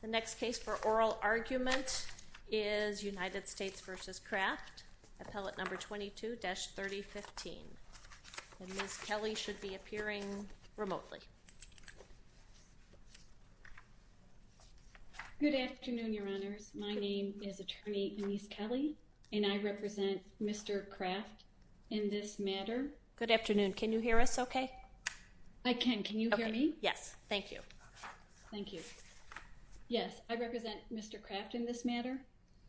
The next case for oral argument is United States v. Craft, Appellate No. 22-3015. Ms. Kelly should be appearing remotely. Good afternoon, Your Honors. My name is Attorney Anise Kelly and I represent Mr. Craft in this matter. Good afternoon. Can you hear us okay? I can. Can you hear me? Yes. Thank you. Thank you. Yes, I represent Mr. Craft in this matter.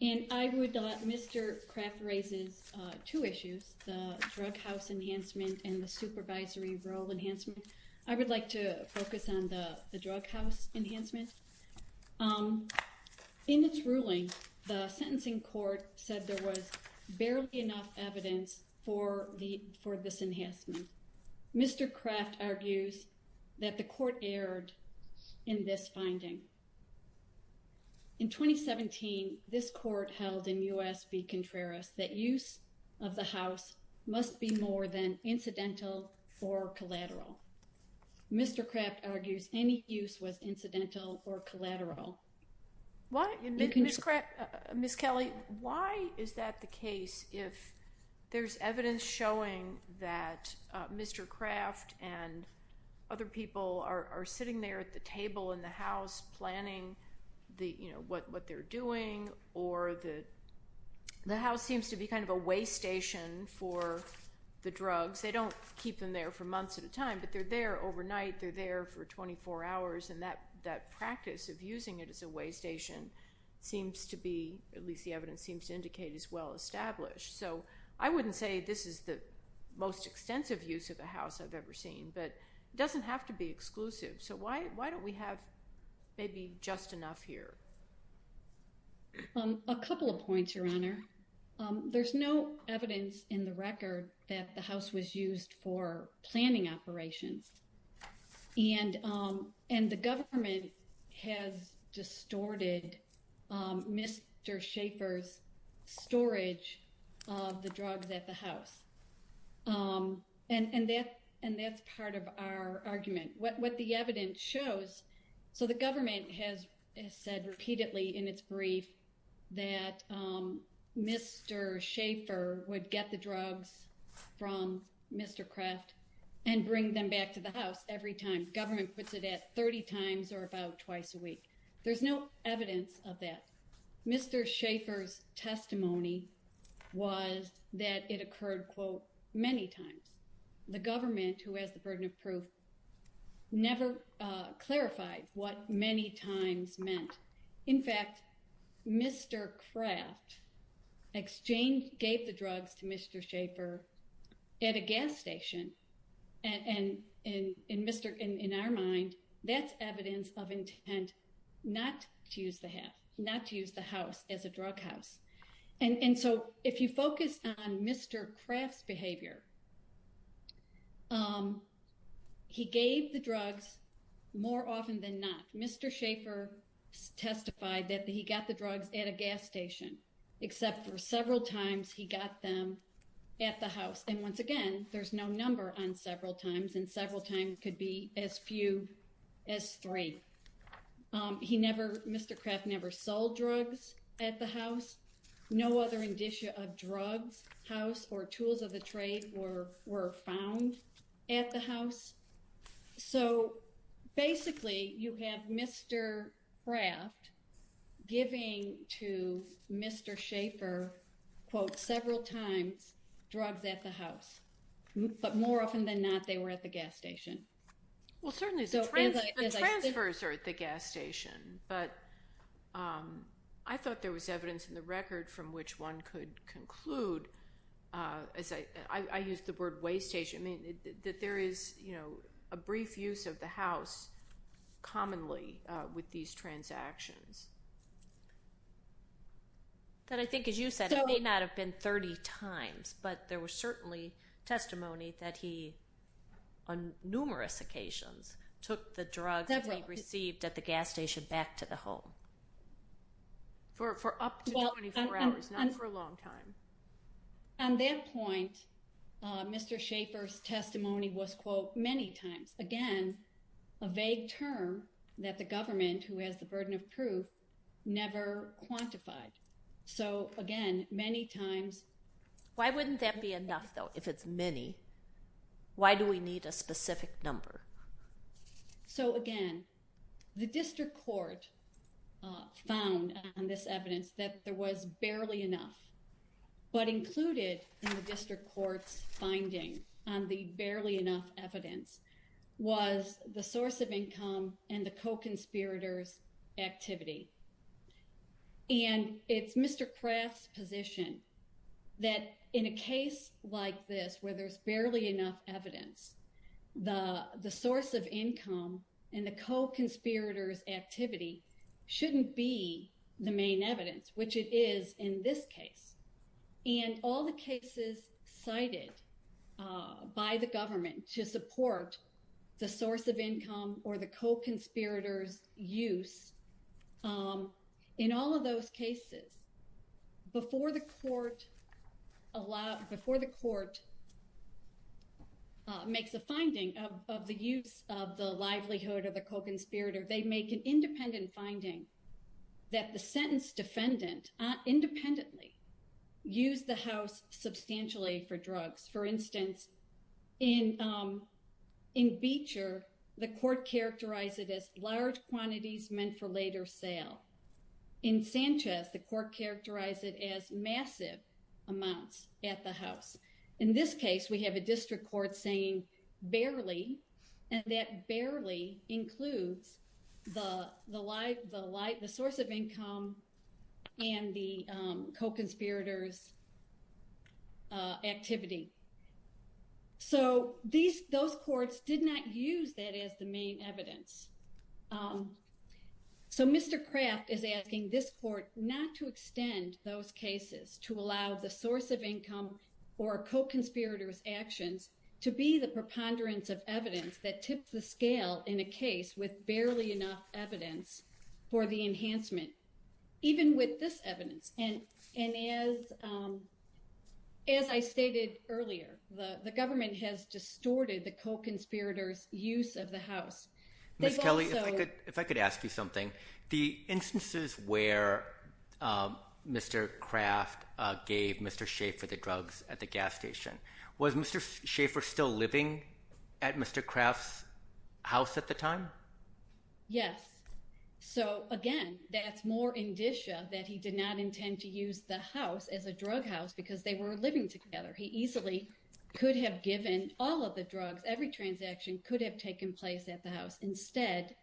And I would, Mr. Craft raises two issues, the drug house enhancement and the supervisory role enhancement. I would like to focus on the drug house enhancement. In its ruling, the sentencing court said there was barely enough evidence for this enhancement. Mr. Craft argues that the court erred in this finding. In 2017, this court held in U.S. v. Contreras that use of the house must be more than incidental or collateral. Mr. Craft argues any use was incidental or collateral. Ms. Kelly, why is that the case if there's evidence showing that Mr. Craft and other people are sitting there at the table in the house planning what they're doing or the house seems to be kind of a way station for the drugs. They don't keep them there for months at a time, but they're there overnight. They're there for 24 hours, and that practice of using it as a way station seems to be, at least the evidence seems to indicate, is well established. So I wouldn't say this is the most extensive use of the house I've ever seen, but it doesn't have to be exclusive. So why don't we have maybe just enough here? A couple of points, Your Honor. There's no evidence in the record that the house was used for planning operations. And the government has distorted Mr. Schaffer's storage of the drugs at the house. And that's part of our argument. What the evidence shows, so the government has said repeatedly in its brief that Mr. Schaffer would get the drugs from Mr. Craft and bring them back to the house every time. Government puts it at 30 times or about twice a week. There's no evidence of that. Mr. Schaffer's testimony was that it occurred, quote, many times. The government, who has the burden of proof, never clarified what many times meant. In fact, Mr. Craft gave the drugs to Mr. Schaffer at a gas station. And in our mind, that's evidence of intent not to use the house as a drug house. And so if you focus on Mr. Craft's behavior, he gave the drugs more often than not. Mr. Schaffer testified that he got the drugs at a gas station, except for several times he got them at the house. And once again, there's no number on several times, and several times could be as few as three. He never, Mr. Craft never sold drugs at the house. No other indicia of drugs, house, or tools of the trade were found at the house. So basically, you have Mr. Craft giving to Mr. Schaffer, quote, several times, drugs at the house. But more often than not, they were at the gas station. Well, certainly the transfers are at the gas station. But I thought there was evidence in the record from which one could conclude, as I used the word waste station, that there is a brief use of the house commonly with these transactions. Then I think, as you said, it may not have been 30 times, but there was certainly testimony that he, on numerous occasions, took the drugs that he received at the gas station back to the home for up to 24 hours, not for a long time. On that point, Mr. Schaffer's testimony was, quote, many times. Again, a vague term that the government, who has the burden of proof, never quantified. So again, many times. Why wouldn't that be enough, though, if it's many? Why do we need a specific number? So again, the district court found on this evidence that there was barely enough, but included in the district court's finding on the barely enough evidence, was the source of income and the co-conspirator's activity. And it's Mr. Kraft's position that in a case like this, where there's barely enough evidence, the source of income and the co-conspirator's activity shouldn't be the main evidence, which it is in this case. And all the cases cited by the government to support the source of income or the co-conspirator's use, in all of those cases, before the court makes a finding of the use of the livelihood of the co-conspirator, they make an independent finding that the sentence defendant independently used the house substantially for drugs. For instance, in Beecher, the court characterized it as large quantities meant for later sale. In Sanchez, the court characterized it as massive amounts at the house. So those courts did not use that as the main evidence. So Mr. Kraft is asking this court not to extend those cases to allow the source of income or co-conspirator's actions to be the preponderance of evidence that tips the scale in a case with barely enough evidence for the enhancement, even with this evidence. And as I stated earlier, the government has distorted the co-conspirator's use of the house. Mr. Kelly, if I could ask you something, the instances where Mr. Kraft gave Mr. Schaefer the drugs at the gas station, was Mr. Schaefer still living at Mr. Kraft's house at the time? Yes. So again, that's more indicia that he did not intend to use the house as a drug house because they were living together. He easily could have given all of the drugs, every transaction could have taken place at the house. Instead,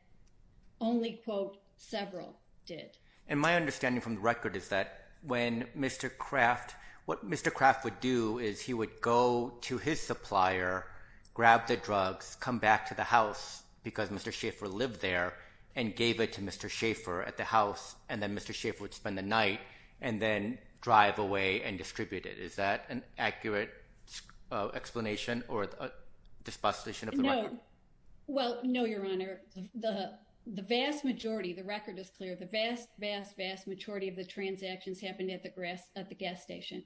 only, quote, several did. And my understanding from the record is that when Mr. Kraft, what Mr. Kraft would do is he would go to his supplier, grab the drugs, come back to the house because Mr. Schaefer lived there and gave it to Mr. Schaefer at the house. And then Mr. Schaefer would spend the night and then drive away and distribute it. Is that an accurate explanation or disposition of the record? No. Well, no, Your Honor. The vast majority, the record is clear. The vast, vast, vast majority of the transactions happened at the gas station.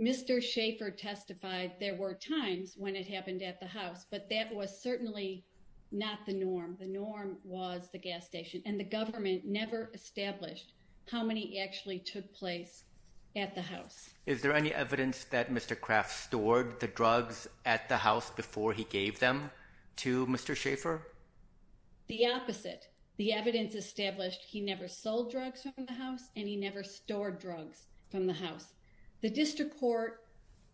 Mr. Schaefer testified there were times when it happened at the house, but that was certainly not the norm. The norm was the gas station and the government never established how many actually took place at the house. Is there any evidence that Mr. Kraft stored the drugs at the house before he gave them to Mr. Schaefer? The opposite. The evidence established he never sold drugs from the house and he never stored drugs from the house. The district court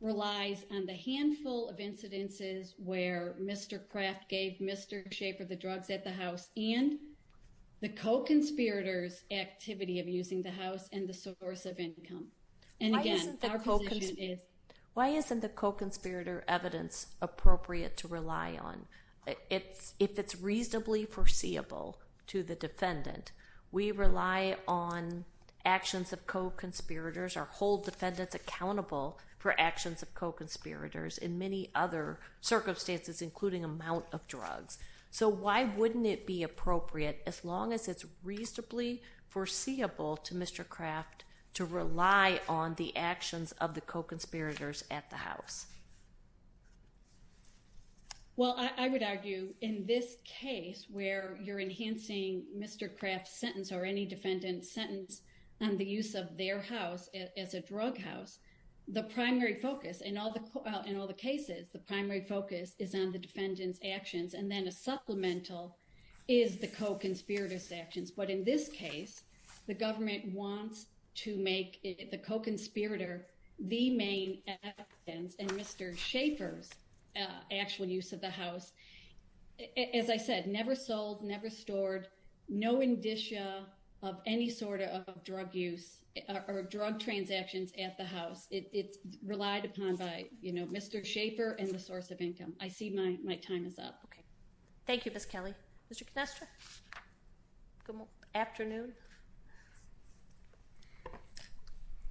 relies on the handful of incidences where Mr. Kraft gave Mr. Schaefer the drugs at the house and the co-conspirator's activity of using the house and the source of income. Why isn't the co-conspirator evidence appropriate to rely on? If it's reasonably foreseeable to the defendant, we rely on actions of co-conspirators or hold defendants accountable for actions of co-conspirators in many other circumstances, including amount of drugs. So why wouldn't it be appropriate, as long as it's reasonably foreseeable to Mr. Kraft, to rely on the actions of the co-conspirators at the house? Well, I would argue in this case where you're enhancing Mr. Kraft's sentence or any defendant's sentence on the use of their house as a drug house, the primary focus in all the cases, the primary focus is on the defendant's actions and then a supplemental is the co-conspirator's actions. But in this case, the government wants to make the co-conspirator the main evidence and Mr. Schaefer's actual use of the house, as I said, never sold, never stored, no indicia of any sort of drug use or drug transactions at the house. It's relied upon by Mr. Schaefer and the source of income. I see my time is up. Okay. Thank you, Ms. Kelly. Mr. Canestra? Good afternoon.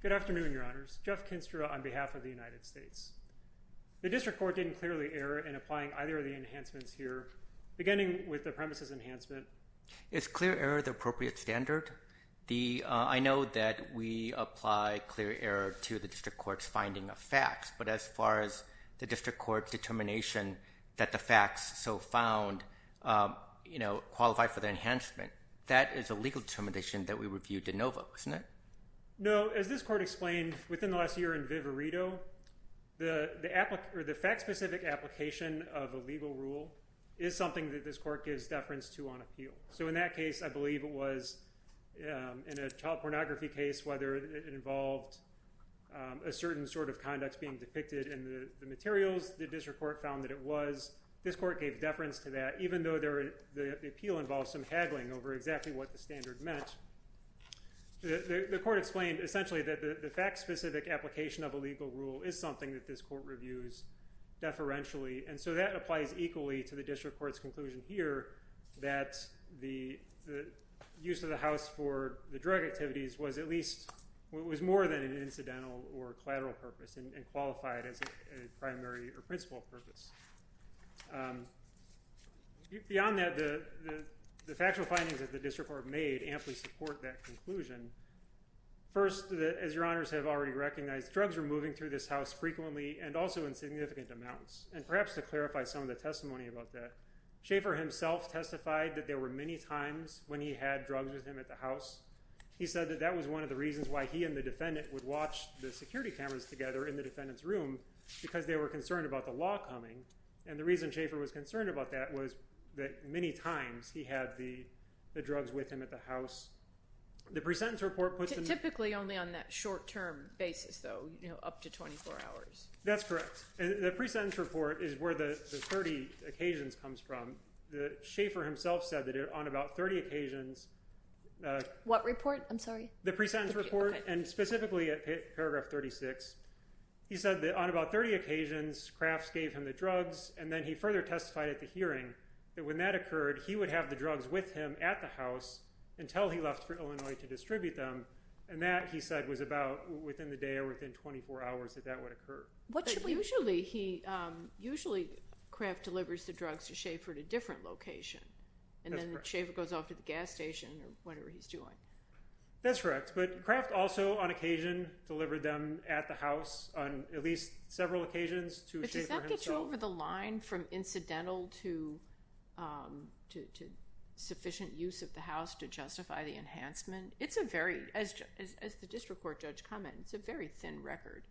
Good afternoon, Your Honors. Jeff Canestra on behalf of the United States. The district court didn't clearly err in applying either of the enhancements here, beginning with the premises enhancement. Is clear error the appropriate standard? I know that we apply clear error to the district court's finding of facts, but as far as the district court determination that the facts so found qualify for the enhancement, that is a legal determination that we review de novo, isn't it? No. As this court explained within the last year in Vivarito, the fact-specific application of a legal rule is something that this court gives deference to on appeal. So in that case, I believe it was in a child pornography case whether it involved a certain sort of conduct being depicted in the materials. The district court found that it was. This court gave deference to that, even though the appeal involves some haggling over exactly what the standard meant. The court explained essentially that the fact-specific application of a legal rule is something that this court reviews deferentially. And so that applies equally to the district court's conclusion here that the use of the house for the drug activities was at least was more than an incidental or collateral purpose and qualified as a primary or principal purpose. Beyond that, the factual findings that the district court made amply support that conclusion. First, as your honors have already recognized, drugs are moving through this house frequently and also in significant amounts. And perhaps to clarify some of the testimony about that, Schaefer himself testified that there were many times when he had drugs with him at the house. He said that that was one of the reasons why he and the defendant would watch the security cameras together in the defendant's room because they were concerned about the law coming. And the reason Schaefer was concerned about that was that many times he had the drugs with him at the house. The pre-sentence report puts him— Typically only on that short-term basis, though, you know, up to 24 hours. That's correct. And the pre-sentence report is where the 30 occasions comes from. Schaefer himself said that on about 30 occasions— What report? I'm sorry. The pre-sentence report, and specifically at paragraph 36. He said that on about 30 occasions, Crafts gave him the drugs, and then he further testified at the hearing that when that occurred, he would have the drugs with him at the house until he left for Illinois to distribute them. And that, he said, was about within the day or within 24 hours that that would occur. But usually Craft delivers the drugs to Schaefer at a different location. And then Schaefer goes off to the gas station or whatever he's doing. That's correct. But Craft also, on occasion, delivered them at the house on at least several occasions to Schaefer himself. But does that get you over the line from incidental to sufficient use of the house to justify the enhancement? It's a very—as the district court judge commented, it's a very thin record.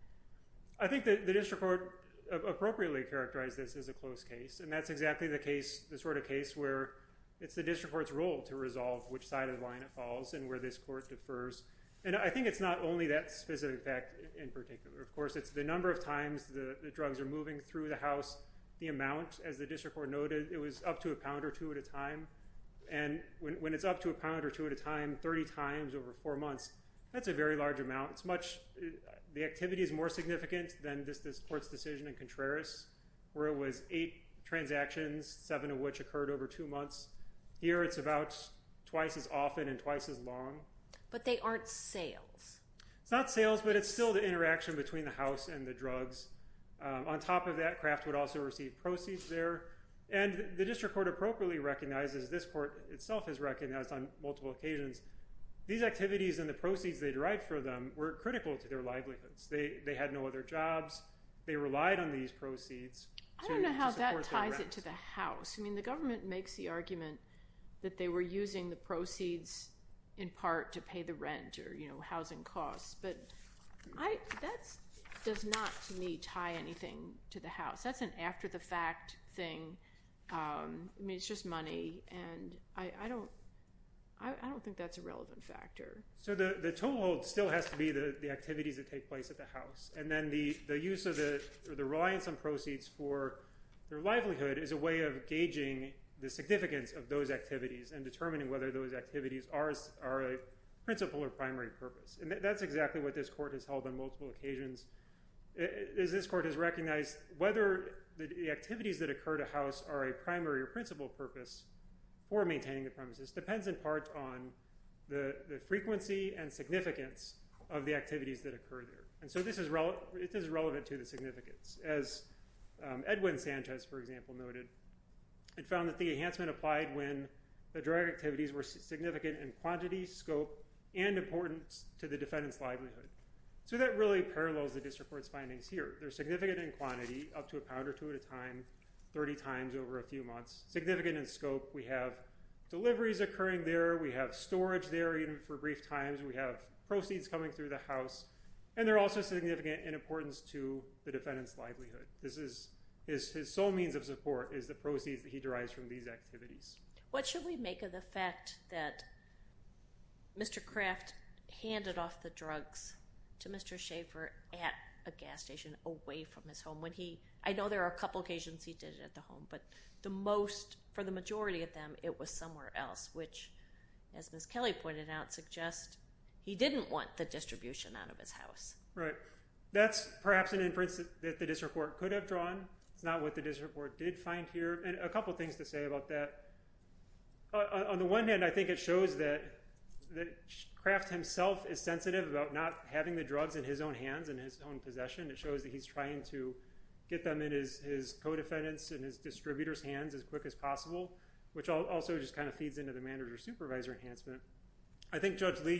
I think the district court appropriately characterized this as a close case, and that's exactly the sort of case where it's the district court's role to resolve which side of the line it falls and where this court defers. And I think it's not only that specific fact in particular. Of course, it's the number of times the drugs are moving through the house, the amount. As the district court noted, it was up to a pound or two at a time. And when it's up to a pound or two at a time, 30 times over four months, that's a very large amount. It's much—the activity is more significant than this court's decision in Contreras, where it was eight transactions, seven of which occurred over two months. Here it's about twice as often and twice as long. But they aren't sales. It's not sales, but it's still the interaction between the house and the drugs. On top of that, Craft would also receive proceeds there. And the district court appropriately recognizes—this court itself has recognized on multiple occasions— these activities and the proceeds they derived from them were critical to their livelihoods. They had no other jobs. They relied on these proceeds to support their rents. I don't know how that ties it to the house. I mean, the government makes the argument that they were using the proceeds in part to pay the rent or housing costs. But that does not, to me, tie anything to the house. That's an after-the-fact thing. I mean, it's just money, and I don't think that's a relevant factor. So the totem pole still has to be the activities that take place at the house. And then the use of the—or the reliance on proceeds for their livelihood is a way of gauging the significance of those activities and determining whether those activities are a principal or primary purpose. And that's exactly what this court has held on multiple occasions. This court has recognized whether the activities that occur at a house are a primary or principal purpose for maintaining the premises depends in part on the frequency and significance of the activities that occur there. And so this is relevant to the significance. As Edwin Sanchez, for example, noted, it found that the enhancement applied when the direct activities were significant in quantity, So that really parallels the district court's findings here. They're significant in quantity, up to a pound or two at a time, 30 times over a few months. Significant in scope. We have deliveries occurring there. We have storage there, even for brief times. We have proceeds coming through the house. And they're also significant in importance to the defendant's livelihood. This is—his sole means of support is the proceeds that he derives from these activities. What should we make of the fact that Mr. Kraft handed off the drugs to Mr. Schaefer at a gas station away from his home? When he—I know there are a couple occasions he did it at the home, but the most—for the majority of them, it was somewhere else. Which, as Ms. Kelly pointed out, suggests he didn't want the distribution out of his house. Right. That's perhaps an inference that the district court could have drawn. It's not what the district court did find here. And a couple things to say about that. On the one hand, I think it shows that Kraft himself is sensitive about not having the drugs in his own hands, in his own possession. It shows that he's trying to get them in his co-defendants' and his distributors' hands as quick as possible, which also just kind of feeds into the manager-supervisor enhancement. I think, Judge Lee,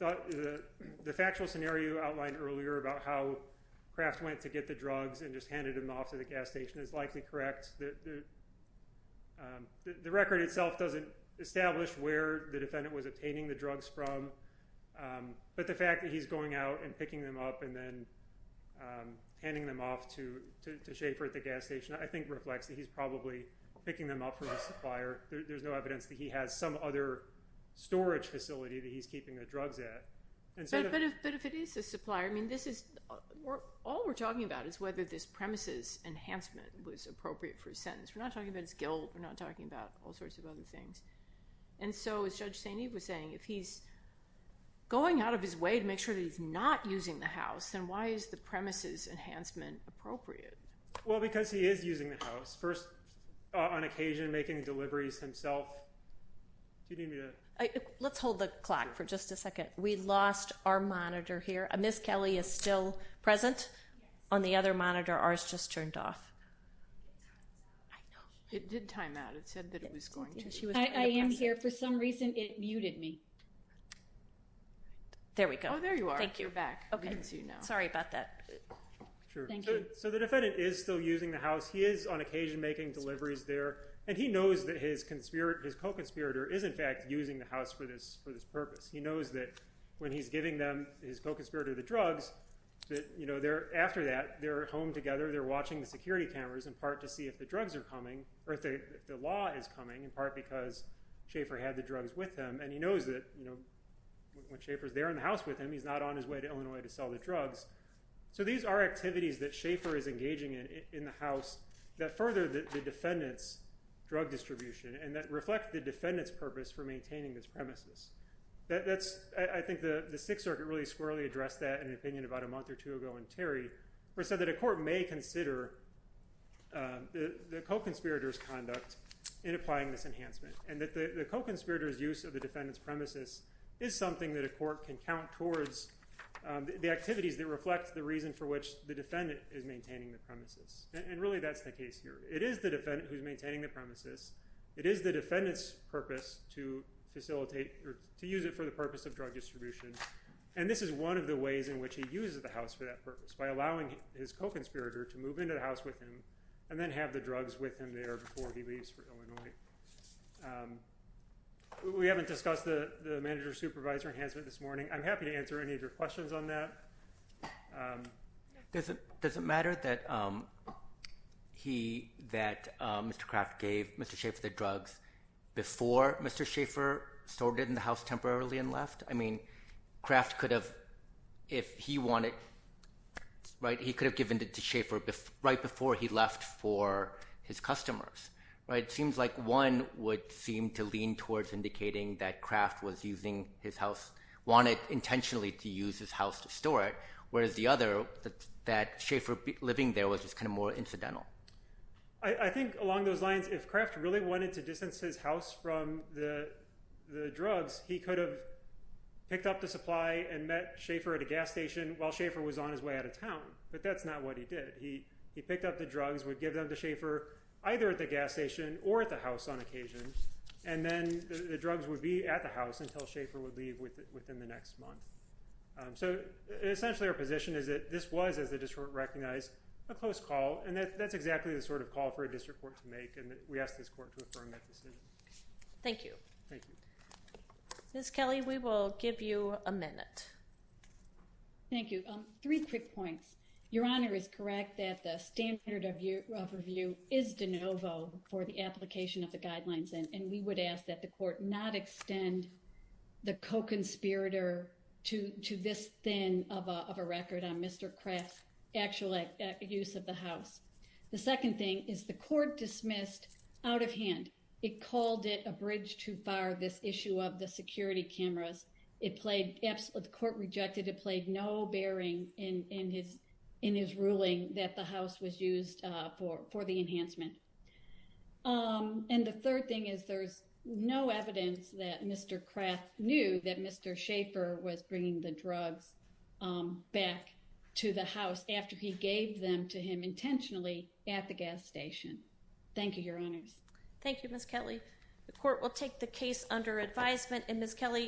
the factual scenario you outlined earlier about how Kraft went to get the drugs and just handed them off to the gas station is likely correct. The record itself doesn't establish where the defendant was obtaining the drugs from, but the fact that he's going out and picking them up and then handing them off to Schaefer at the gas station, I think reflects that he's probably picking them up from a supplier. There's no evidence that he has some other storage facility that he's keeping the drugs at. But if it is a supplier, I mean, all we're talking about is whether this premises enhancement was appropriate for his sentence. We're not talking about his guilt. We're not talking about all sorts of other things. And so, as Judge St. Eve was saying, if he's going out of his way to make sure that he's not using the house, then why is the premises enhancement appropriate? Well, because he is using the house. First, on occasion, making deliveries himself. Let's hold the clock for just a second. We lost our monitor here. Ms. Kelly is still present on the other monitor. Ours just turned off. It did time out. It said that it was going to. I am here. For some reason, it muted me. There we go. Oh, there you are. Thank you. Sorry about that. So the defendant is still using the house. He is, on occasion, making deliveries there. And he knows that his co-conspirator is, in fact, using the house for this purpose. He knows that when he's giving his co-conspirator the drugs, after that, they're at home together. They're watching the security cameras, in part, to see if the drugs are coming, or if the law is coming, in part, because Schaefer had the drugs with him. And he knows that when Schaefer's there in the house with him, he's not on his way to Illinois to sell the drugs. So these are activities that Schaefer is engaging in in the house that further the defendant's drug distribution and that reflect the defendant's purpose for maintaining this premises. I think the Sixth Circuit really squarely addressed that in an opinion about a month or two ago in Terry, where it said that a court may consider the co-conspirator's conduct in applying this enhancement and that the co-conspirator's use of the defendant's premises is something that a court can count towards the activities that reflect the reason for which the defendant is maintaining the premises. And really, that's the case here. It is the defendant who's maintaining the premises. It is the defendant's purpose to facilitate or to use it for the purpose of drug distribution. And this is one of the ways in which he uses the house for that purpose, by allowing his co-conspirator to move into the house with him and then have the drugs with him there before he leaves for Illinois. We haven't discussed the manager-supervisor enhancement this morning. I'm happy to answer any of your questions on that. Does it matter that Mr. Kraft gave Mr. Schaffer the drugs before Mr. Schaffer stored it in the house temporarily and left? I mean, Kraft could have, if he wanted, right, he could have given it to Schaffer right before he left for his customers. It seems like one would seem to lean towards indicating that Kraft was using his house, wanted intentionally to use his house to store it, whereas the other, that Schaffer living there was just kind of more incidental. I think along those lines, if Kraft really wanted to distance his house from the drugs, he could have picked up the supply and met Schaffer at a gas station while Schaffer was on his way out of town. But that's not what he did. He picked up the drugs, would give them to Schaffer either at the gas station or at the house on occasion, and then the drugs would be at the house until Schaffer would leave within the next month. So essentially our position is that this was, as the district recognized, a close call, and that's exactly the sort of call for a district court to make, and we ask this court to affirm that decision. Thank you. Ms. Kelly, we will give you a minute. Thank you. Three quick points. Your Honor is correct that the standard of review is de novo for the application of the guidelines, and we would ask that the court not extend the co-conspirator to this thin of a record on Mr. Kraft's actual use of the house. The second thing is the court dismissed out of hand. It called it a bridge too far, this issue of the security cameras. The court rejected. It played no bearing in his ruling that the house was used for the enhancement. And the third thing is there's no evidence that Mr. Kraft knew that Mr. Schaffer was bringing the drugs back to the house after he gave them to him intentionally at the gas station. Thank you, Your Honors. Thank you, Ms. Kelly. The court will take the case under advisement. And Ms. Kelly?